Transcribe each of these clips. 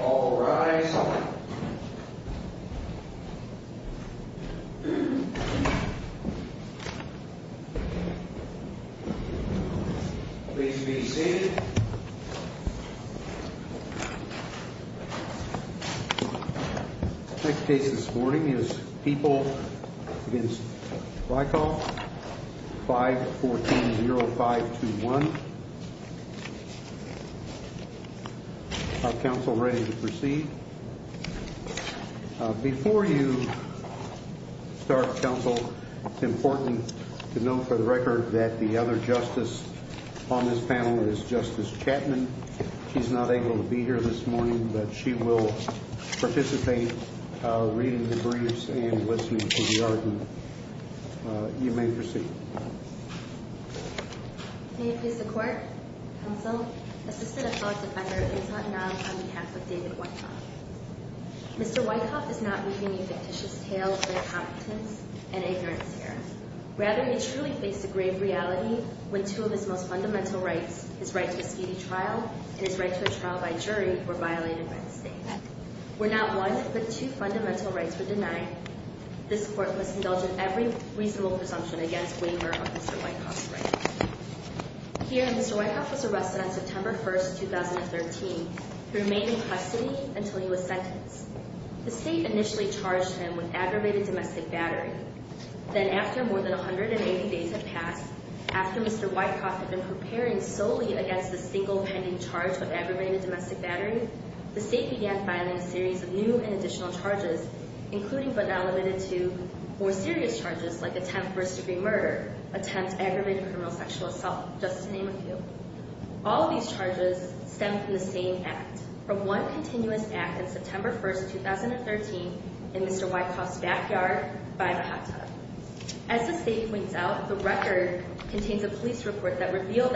All rise. Please be seated. The next case this morning is People v. Wyckoff, 5-14-0521. Are counsel ready to proceed? Before you start, counsel, it's important to note for the record that the other justice on this panel is Justice Chapman. She's not able to be here this morning, but she will participate reading the briefs and listening to the argument. You may proceed. May it please the Court, Counsel, Assistant Appellate Defender Inzantinow on behalf of David Wyckoff. Mr. Wyckoff is not weaving a fictitious tale of incompetence and ignorance here. Rather, he truly faced a grave reality when two of his most fundamental rights, his right to a speedy trial and his right to a trial by jury, were violated by the State. Where not one, but two fundamental rights were denied, this Court must indulge in every reasonable presumption against waiver of Mr. Wyckoff's rights. Here, Mr. Wyckoff was arrested on September 1, 2013. He remained in custody until he was sentenced. The State initially charged him with aggravated domestic battery. Then, after more than 180 days had passed, after Mr. Wyckoff had been preparing solely against the single pending charge of aggravated domestic battery, the State began filing a series of new and additional charges, including but not limited to more serious charges like attempt first-degree murder, attempt aggravated criminal sexual assault, just to name a few. All of these charges stem from the same act, from one continuous act on September 1, 2013 in Mr. Wyckoff's backyard by a hot tub. As the State points out, the record contains a police report that revealed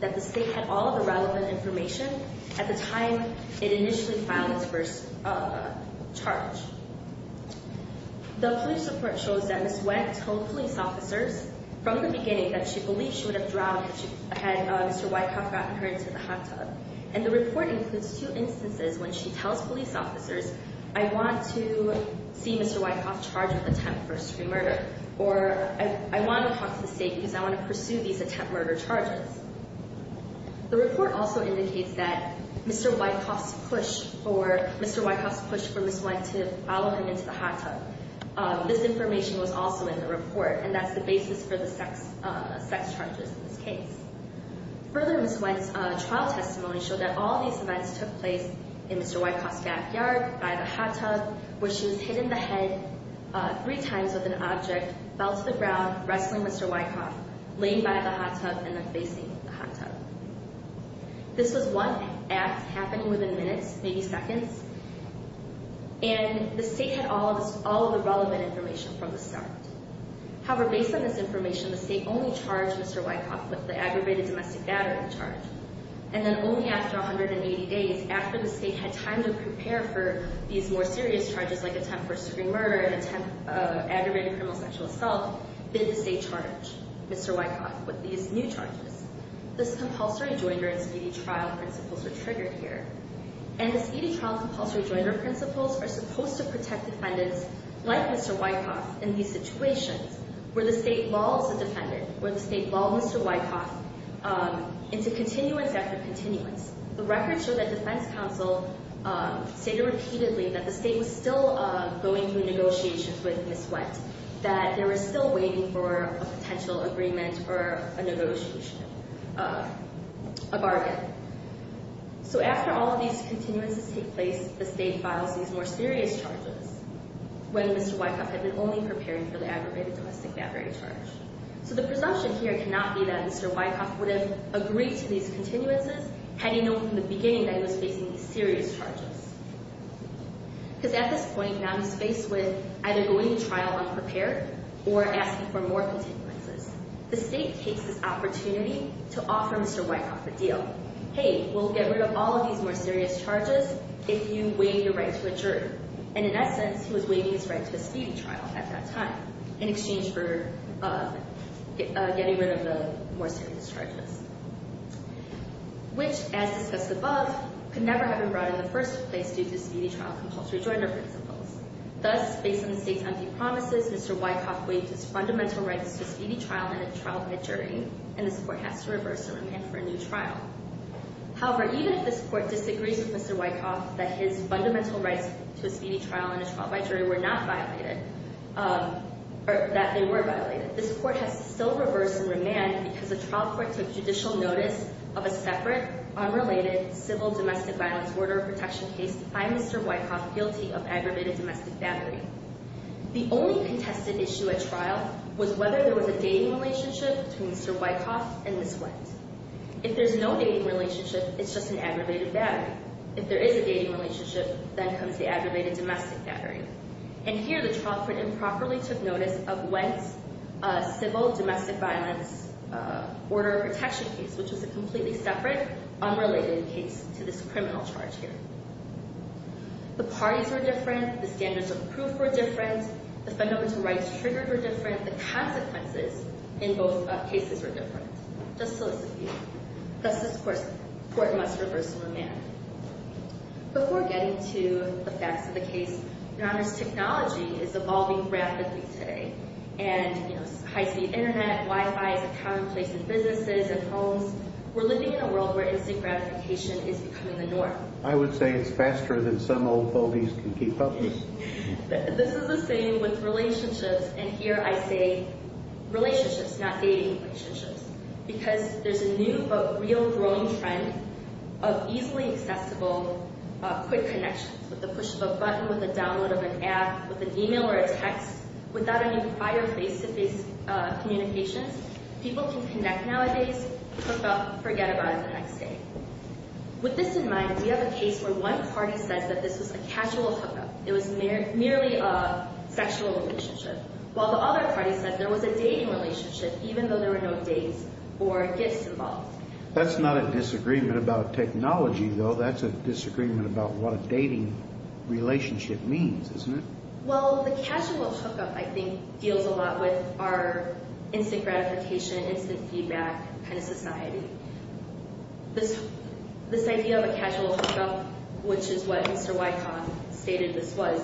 that the State had all of the relevant information at the time it initially filed its first charge. The police report shows that Ms. Wendt told police officers from the beginning that she believed she would have drowned had Mr. Wyckoff gotten her into the hot tub. And the report includes two instances when she tells police officers, I want to see Mr. Wyckoff charged with attempt first-degree murder, or I want to talk to the State because I want to pursue these attempt murder charges. The report also indicates that Mr. Wyckoff's push for Ms. Wendt to follow him into the hot tub, this information was also in the report, and that's the basis for the sex charges in this case. Further, Ms. Wendt's trial testimony showed that all of these events took place in Mr. Wyckoff's backyard by the hot tub, where she was hit in the head three times with an object, fell to the ground, wrestling Mr. Wyckoff, laying by the hot tub, and then facing the hot tub. This was one act happening within minutes, maybe seconds, and the State had all of the relevant information from the start. However, based on this information, the State only charged Mr. Wyckoff with the aggravated domestic battery charge. And then only after 180 days, after the State had time to prepare for these more serious charges like attempt first-degree murder and attempt aggravated criminal sexual assault, did the State charge Mr. Wyckoff with these new charges. This compulsory joinder and speedy trial principles are triggered here. And the speedy trial and compulsory joinder principles are supposed to protect defendants like Mr. Wyckoff in these situations, where the State lulls the defendant, where the State lulls Mr. Wyckoff into continuance after continuance. The records show that defense counsel stated repeatedly that the State was still going through negotiations with Ms. Wendt, that they were still waiting for a potential agreement or a negotiation, a bargain. So after all of these continuances take place, the State files these more serious charges, when Mr. Wyckoff had been only preparing for the aggravated domestic battery charge. So the presumption here cannot be that Mr. Wyckoff would have agreed to these continuances had he known from the beginning that he was facing these serious charges. Because at this point, now he's faced with either going to trial unprepared or asking for more continuances. The State takes this opportunity to offer Mr. Wyckoff a deal. Hey, we'll get rid of all of these more serious charges if you waive your right to adjourn. And in essence, he was waiving his right to a speedy trial at that time in exchange for getting rid of the more serious charges. Which, as discussed above, could never have been brought in the first place due to speedy trial compulsory joinder principles. Thus, based on the State's empty promises, Mr. Wyckoff waived his fundamental rights to a speedy trial in a trial by jury, and this Court has to reverse and remand for a new trial. However, even if this Court disagrees with Mr. Wyckoff that his fundamental rights to a speedy trial in a trial by jury were not violated, or that they were violated, this Court has to still reverse and remand because the trial court took judicial notice of a separate, unrelated civil domestic violence order of protection case to find Mr. Wyckoff guilty of aggravated domestic battery. The only contested issue at trial was whether there was a dating relationship between Mr. Wyckoff and Ms. Wendt. If there's no dating relationship, it's just an aggravated battery. If there is a dating relationship, then comes the aggravated domestic battery. And here, the trial court improperly took notice of Wendt's civil domestic violence order of protection case, which was a completely separate, unrelated case to this criminal charge here. The parties were different. The standards of proof were different. The fundamental rights triggered were different. The consequences in both cases were different. Just to list a few. Thus, this Court must reverse and remand. Before getting to the facts of the case, Your Honor's technology is evolving rapidly today. And, you know, high-speed Internet, Wi-Fi is a commonplace in businesses and homes. We're living in a world where instant gratification is becoming the norm. I would say it's faster than some old fogeys can keep up with. This is the same with relationships, and here I say relationships, not dating relationships, because there's a new but real growing trend of easily accessible quick connections. With the push of a button, with the download of an app, with an email or a text, without any prior face-to-face communications, people can connect nowadays, forget about it the next day. With this in mind, we have a case where one party says that this was a casual hookup. It was merely a sexual relationship. While the other party said there was a dating relationship, even though there were no dates or gifts involved. That's not a disagreement about technology, though. That's a disagreement about what a dating relationship means, isn't it? Well, the casual hookup, I think, deals a lot with our instant gratification, instant feedback kind of society. This idea of a casual hookup, which is what Mr. Wycombe stated this was,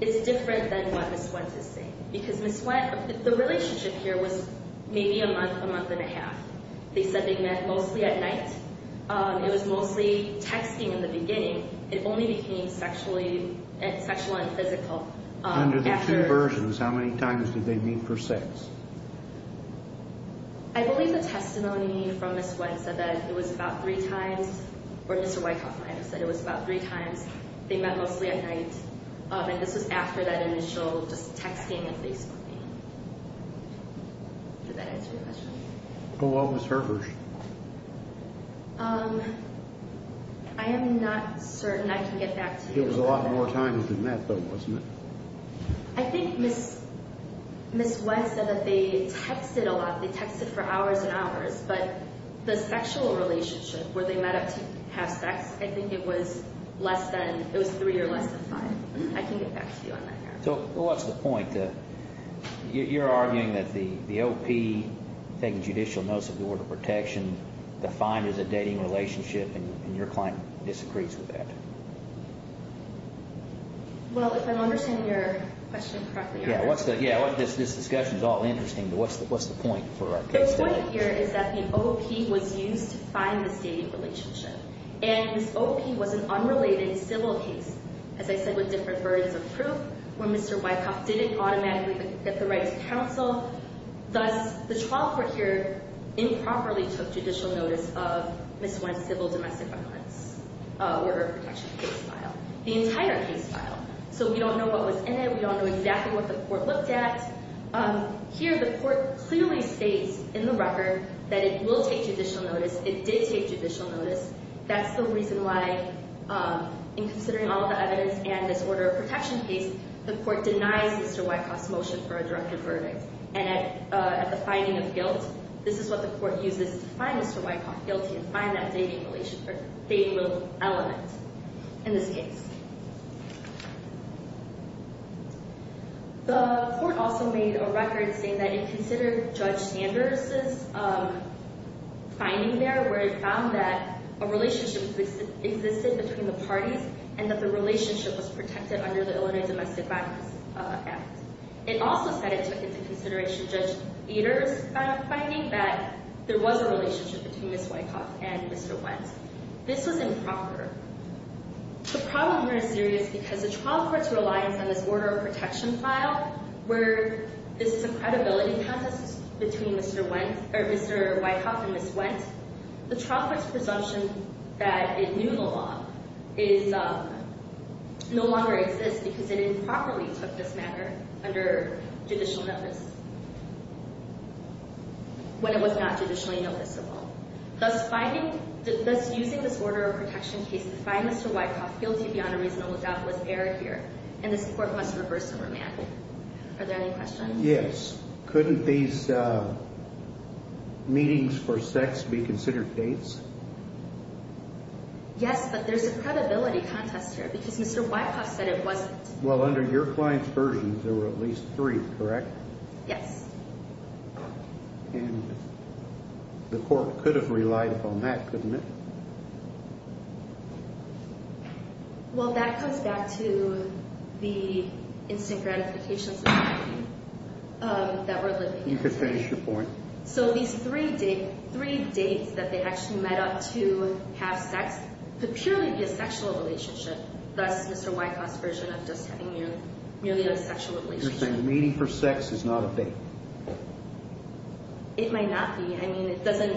is different than what Ms. Wentz is saying. Because Ms. Wentz, the relationship here was maybe a month, a month and a half. They said they met mostly at night. It was mostly texting in the beginning. It only became sexual and physical. Under the two versions, how many times did they meet for sex? I believe the testimony from Ms. Wentz said that it was about three times. Or Mr. Wycombe might have said it was about three times. They met mostly at night. And this was after that initial just texting and Facebooking. Did that answer your question? Well, what was hers? I am not certain I can get back to you on that. It was a lot more times than that, though, wasn't it? I think Ms. Wentz said that they texted a lot. They texted for hours and hours. But the sexual relationship where they met up to have sex, I think it was less than, it was three or less than five. I can get back to you on that. So what's the point? You're arguing that the OP taking judicial notice of the Order of Protection defined as a dating relationship, and your client disagrees with that. Well, if I'm understanding your question correctly. Yeah, this discussion is all interesting, but what's the point for our case today? The point here is that the OP was used to find this dating relationship. And this OP was an unrelated civil case, as I said, with different burdens of proof, where Mr. Wycombe didn't automatically get the right to counsel. Thus, the trial court here improperly took judicial notice of Ms. Wentz' civil domestic violence Order of Protection case file, the entire case file. So we don't know what was in it. We don't know exactly what the court looked at. Here, the court clearly states in the record that it will take judicial notice. It did take judicial notice. That's the reason why, in considering all the evidence and this Order of Protection case, the court denies Mr. Wycombe's motion for a directed verdict. And at the finding of guilt, this is what the court uses to find Mr. Wycombe guilty and find that dating element in this case. The court also made a record saying that it considered Judge Sanders' finding there, where it found that a relationship existed between the parties and that the relationship was protected under the Illinois Domestic Violence Act. It also said it took into consideration Judge Eder's finding that there was a relationship between Ms. Wycombe and Mr. Wentz. This was improper. The problem here is serious because the trial court's reliance on this Order of Protection file, where this is a credibility contest between Mr. Wycombe and Ms. Wentz, the trial court's presumption that it knew the law no longer exists because it improperly took this matter under judicial notice when it was not judicially noticeable. Thus, using this Order of Protection case to find Mr. Wycombe guilty beyond a reasonable doubt was error here. And this court wants to reverse the remand. Are there any questions? Yes. Couldn't these meetings for sex be considered dates? Yes, but there's a credibility contest here because Mr. Wycombe said it wasn't. Well, under your client's version, there were at least three, correct? Yes. And the court could have relied upon that, couldn't it? Well, that comes back to the instant gratification society that we're living in. You could finish your point. So these three dates that they actually met up to have sex could purely be a sexual relationship, thus Mr. Wycombe's version of just having merely a sexual relationship. So you're saying the meeting for sex is not a date? It might not be. I mean, it doesn't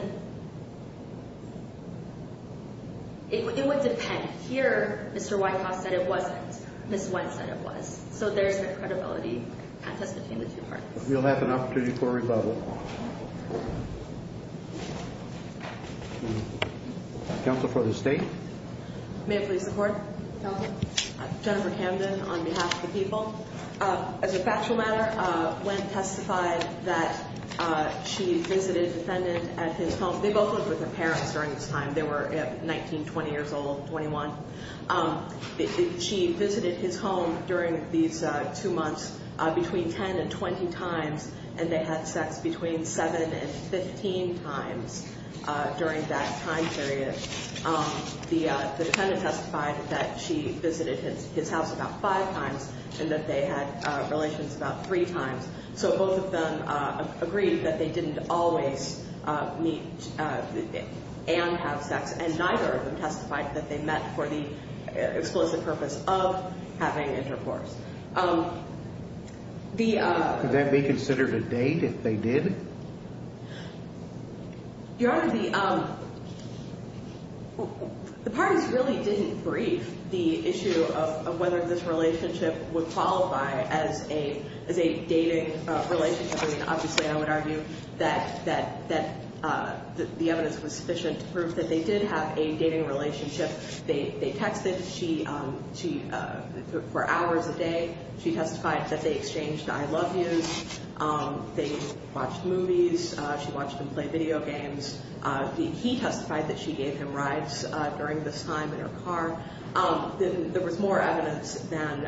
– it would depend. Here, Mr. Wycombe said it wasn't. Ms. Wentz said it was. So there's a credibility contest between the two parties. We'll have an opportunity for a rebuttal. Counsel for the State. May I please support, Counsel? Jennifer Camden on behalf of the people. As a factual matter, Wentz testified that she visited the defendant at his home. They both lived with their parents during this time. They were 19, 20 years old, 21. She visited his home during these two months between 10 and 20 times, and they had sex between 7 and 15 times during that time period. The defendant testified that she visited his house about five times and that they had relations about three times. So both of them agreed that they didn't always meet and have sex, and neither of them testified that they met for the explicit purpose of having intercourse. Could that be considered a date if they did? Your Honor, the parties really didn't brief the issue of whether this relationship would qualify as a dating relationship. I mean, obviously, I would argue that the evidence was sufficient to prove that they did have a dating relationship. They texted for hours a day. She testified that they exchanged I love yous. They watched movies. She watched them play video games. He testified that she gave him rides during this time in her car. There was more evidence than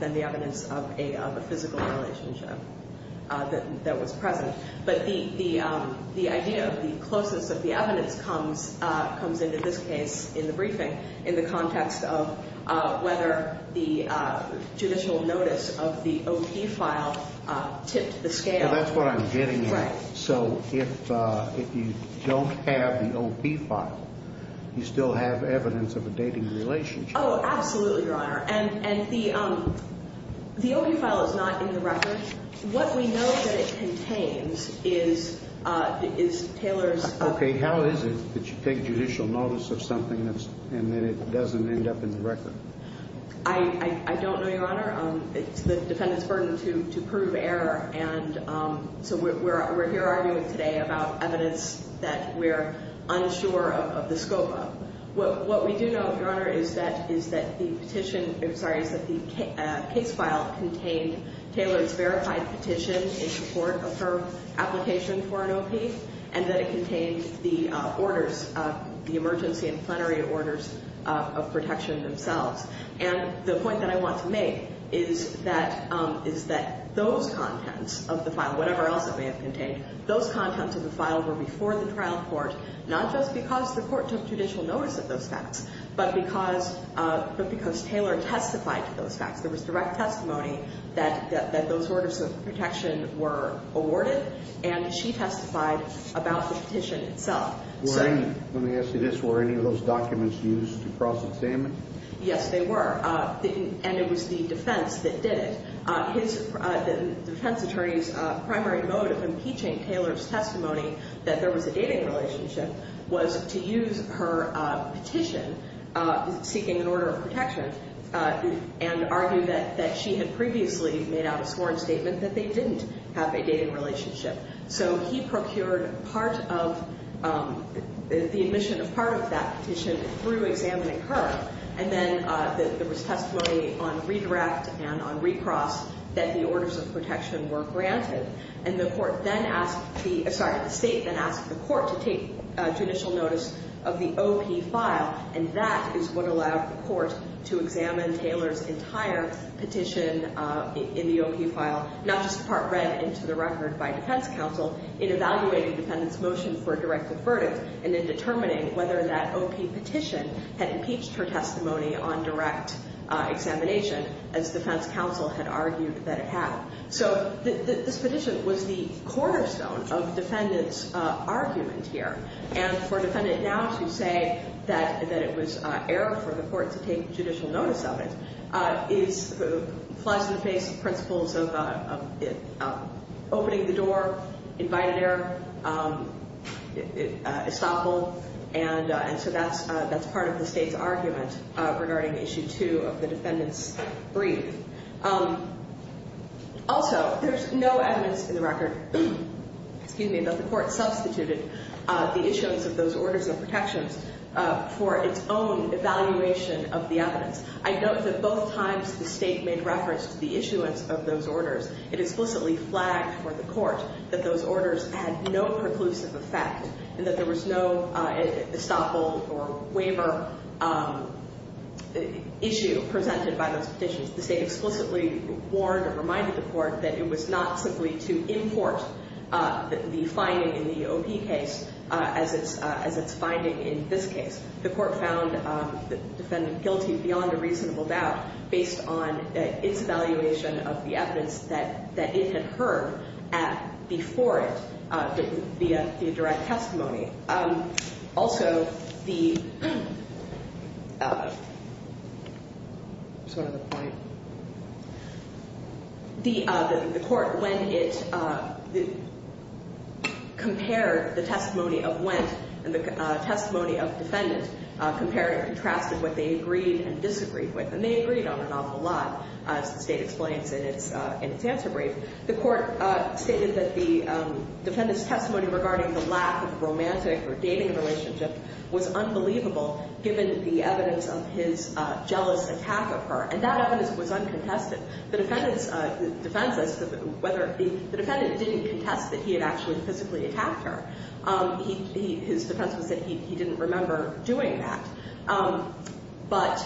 the evidence of a physical relationship that was present. But the idea of the closeness of the evidence comes into this case in the briefing in the context of whether the judicial notice of the O.P. file tipped the scale. Well, that's what I'm getting at. Right. So if you don't have the O.P. file, you still have evidence of a dating relationship. Oh, absolutely, Your Honor. And the O.P. file is not in the record. What we know that it contains is Taylor's. Okay. How is it that you take judicial notice of something and then it doesn't end up in the record? I don't know, Your Honor. It's the defendant's burden to prove error. And so we're here arguing today about evidence that we're unsure of the scope of. What we do know, Your Honor, is that the case file contained Taylor's verified petition in support of her application for an O.P. and that it contained the emergency and plenary orders of protection themselves. And the point that I want to make is that those contents of the file, whatever else it may have contained, those contents of the file were before the trial court, not just because the court took judicial notice of those facts, but because Taylor testified to those facts. There was direct testimony that those orders of protection were awarded, and she testified about the petition itself. Let me ask you this. Were any of those documents used to cross-examine? Yes, they were. And it was the defense that did it. The defense attorney's primary mode of impeaching Taylor's testimony that there was a dating relationship was to use her petition seeking an order of protection and argue that she had previously made out a sworn statement that they didn't have a dating relationship. So he procured part of the admission of part of that petition through examining her, and then there was testimony on redirect and on recross that the orders of protection were granted. And the court then asked the – sorry, the state then asked the court to take judicial notice of the O.P. file, and that is what allowed the court to examine Taylor's entire petition in the O.P. file, not just the part read into the record by defense counsel. It evaluated the defendant's motion for a directive verdict, and then determining whether that O.P. petition had impeached her testimony on direct examination, as defense counsel had argued that it had. So this petition was the cornerstone of defendant's argument here. And for a defendant now to say that it was error for the court to take judicial notice of it flies in the face of principles of opening the door, invited error, estoppel. And so that's part of the state's argument regarding Issue 2 of the defendant's brief. Also, there's no evidence in the record, excuse me, that the court substituted the issuance of those orders of protections for its own evaluation of the evidence. I note that both times the state made reference to the issuance of those orders, it explicitly flagged for the court that those orders had no preclusive effect and that there was no estoppel or waiver issue presented by those petitions. The state explicitly warned or reminded the court that it was not simply to import the finding in the O.P. case as its finding in this case. The court found the defendant guilty beyond a reasonable doubt based on its evaluation of the evidence that it had heard before it via direct testimony. Also, the court, when it compared the testimony of Wendt and the testimony of the defendant, compared and contrasted what they agreed and disagreed with, and they agreed on an awful lot, as the state explains in its answer brief, the court stated that the defendant's testimony regarding the lack of romantic or dating relationship was unbelievable given the evidence of his jealous attack of her. And that evidence was uncontested. The defendant didn't contest that he had actually physically attacked her. His defense was that he didn't remember doing that. But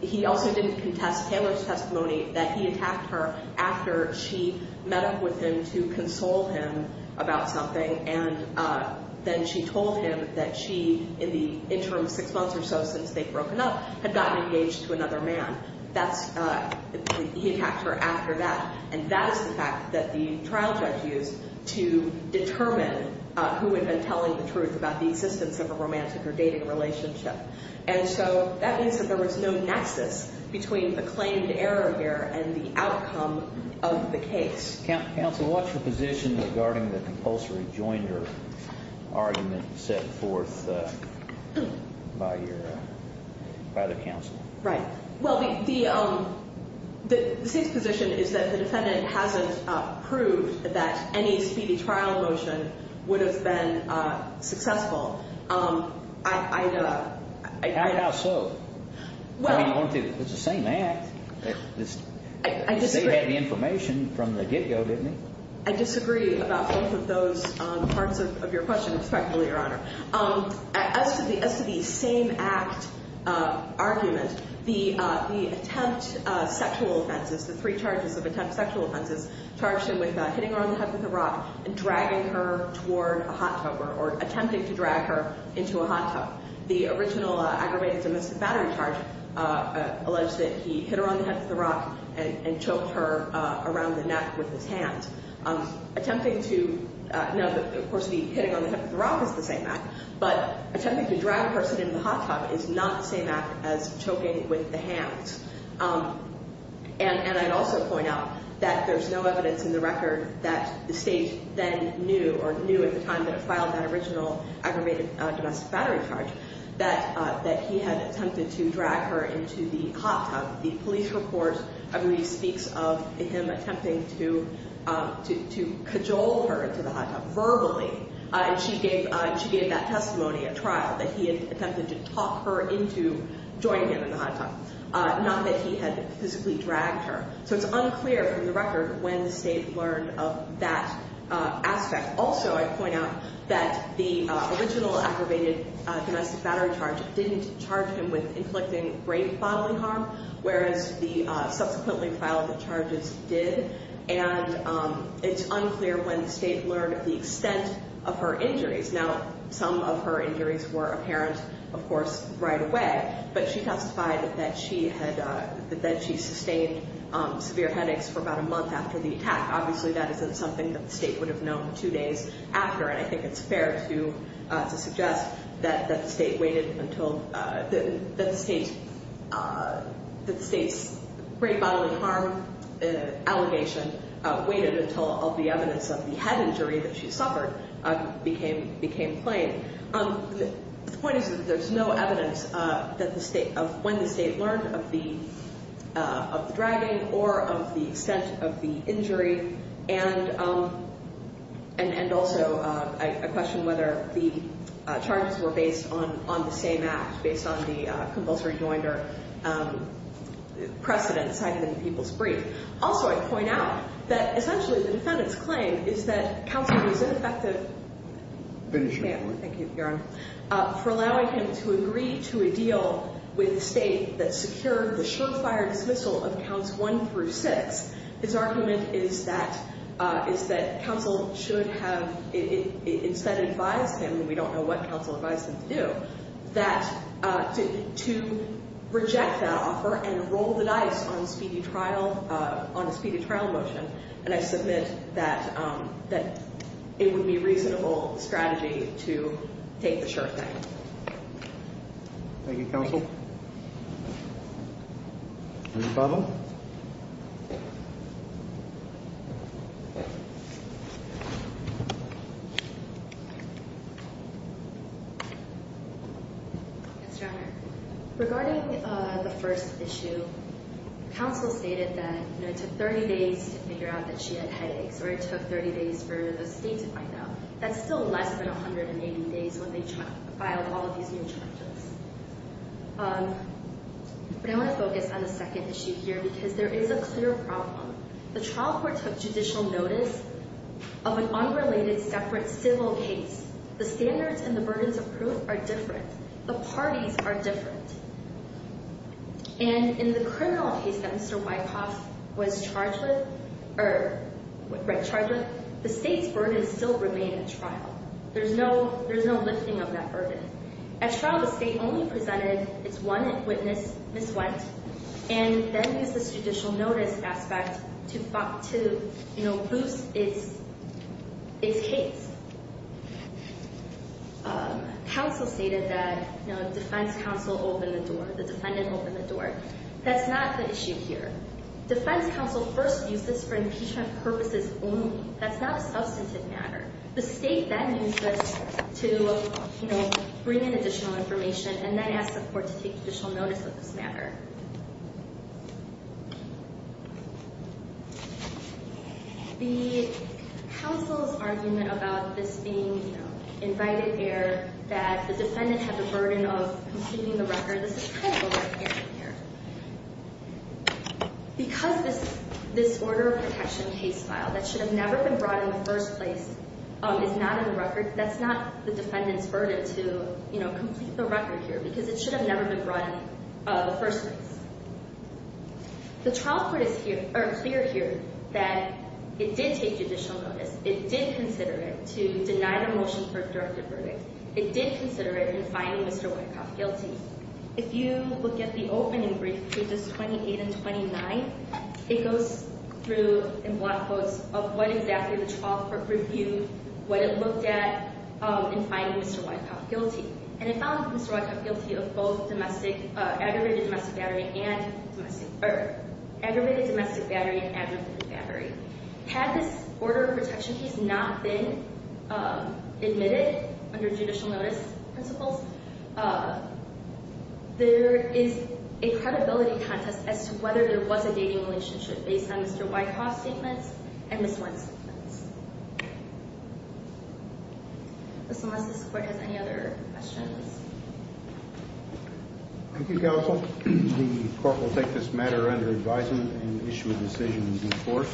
he also didn't contest Taylor's testimony that he attacked her after she met up with him to console him about something, and then she told him that she, in the interim six months or so since they'd broken up, had gotten engaged to another man. He attacked her after that. And that is the fact that the trial judge used to determine who had been telling the truth about the existence of a romantic or dating relationship. And so that means that there was no nexus between the claimed error here and the outcome of the case. Counsel, what's your position regarding the compulsory joinder argument set forth by the counsel? Right. Well, the state's position is that the defendant hasn't proved that any speedy trial motion would have been successful. How so? I mean, it's the same act. I disagree. They had the information from the get-go, didn't they? I disagree about both of those parts of your question, respectfully, Your Honor. As to the same act argument, the attempt sexual offenses, the three charges of attempt sexual offenses charged him with hitting her on the head with a rock and dragging her toward a hot tub or attempting to drag her into a hot tub. The original aggravated domestic battery charge alleged that he hit her on the head with a rock and choked her around the neck with his hand. Now, of course, the hitting on the head with a rock is the same act, but attempting to drag a person into the hot tub is not the same act as choking with the hands. And I'd also point out that there's no evidence in the record that the state then knew or knew at the time that it filed that original aggravated domestic battery charge that he had attempted to drag her into the hot tub. The police report, I believe, speaks of him attempting to cajole her into the hot tub verbally, and she gave that testimony at trial that he had attempted to talk her into joining him in the hot tub, not that he had physically dragged her. So it's unclear from the record when the state learned of that aspect. Also, I'd point out that the original aggravated domestic battery charge didn't charge him with inflicting brain bodily harm, whereas the subsequently filed charges did. And it's unclear when the state learned of the extent of her injuries. Now, some of her injuries were apparent, of course, right away, but she testified that she sustained severe headaches for about a month after the attack. Obviously, that isn't something that the state would have known two days after, and I think it's fair to suggest that the state's brain bodily harm allegation waited until all the evidence of the head injury that she suffered became plain. The point is that there's no evidence of when the state learned of the dragging or of the extent of the injury, and also I question whether the charges were based on the same act, based on the compulsory joinder precedent cited in the people's brief. Also, I'd point out that essentially the defendant's claim is that counsel was ineffective for allowing him to agree to a deal with the state that secured the surefire dismissal of counts one through six. His argument is that counsel should have instead advised him, and we don't know what counsel advised him to do, to reject that offer and roll the dice on a speedy trial motion. And I submit that it would be a reasonable strategy to take the sure thing. Thank you, counsel. Thank you. Ms. Bobham? Yes, Your Honor. Regarding the first issue, counsel stated that it took 30 days to figure out that she had headaches or it took 30 days for the state to find out. That's still less than 180 days when they filed all of these new charges. But I want to focus on the second issue here because there is a clear problem. The trial court took judicial notice of an unrelated separate civil case. The standards and the burdens of proof are different. The parties are different. And in the criminal case that Mr. Wyckoff was charged with, the state's burdens still remain at trial. There's no lifting of that burden. At trial, the state only presented its one witness, Ms. Wendt, and then used the judicial notice aspect to boost its case. Counsel stated that defense counsel opened the door, the defendant opened the door. That's not the issue here. Defense counsel first used this for impeachment purposes only. That's not a substantive matter. The state then used this to bring in additional information and then asked the court to take judicial notice of this matter. The counsel's argument about this being invited air, that the defendant had the burden of completing the record, this is kind of over the edge here. Because this order of protection case file that should have never been brought in the first place is not in the record, that's not the defendant's burden to complete the record here The trial court is clear here that it did take judicial notice. It did consider it to deny the motion for a directive verdict. It did consider it in finding Mr. Wyckoff guilty. If you look at the opening brief pages 28 and 29, it goes through in black quotes of what exactly the trial court reviewed, what it looked at in finding Mr. Wyckoff guilty. And it found Mr. Wyckoff guilty of both aggravated domestic battery and aggravated domestic battery. Had this order of protection case not been admitted under judicial notice principles, there is a credibility contest as to whether there was a dating relationship based on Mr. Wyckoff's statements and Ms. Wynne's statements. Unless this court has any other questions. Thank you, counsel. The court will take this matter under advisement and issue a decision in due course.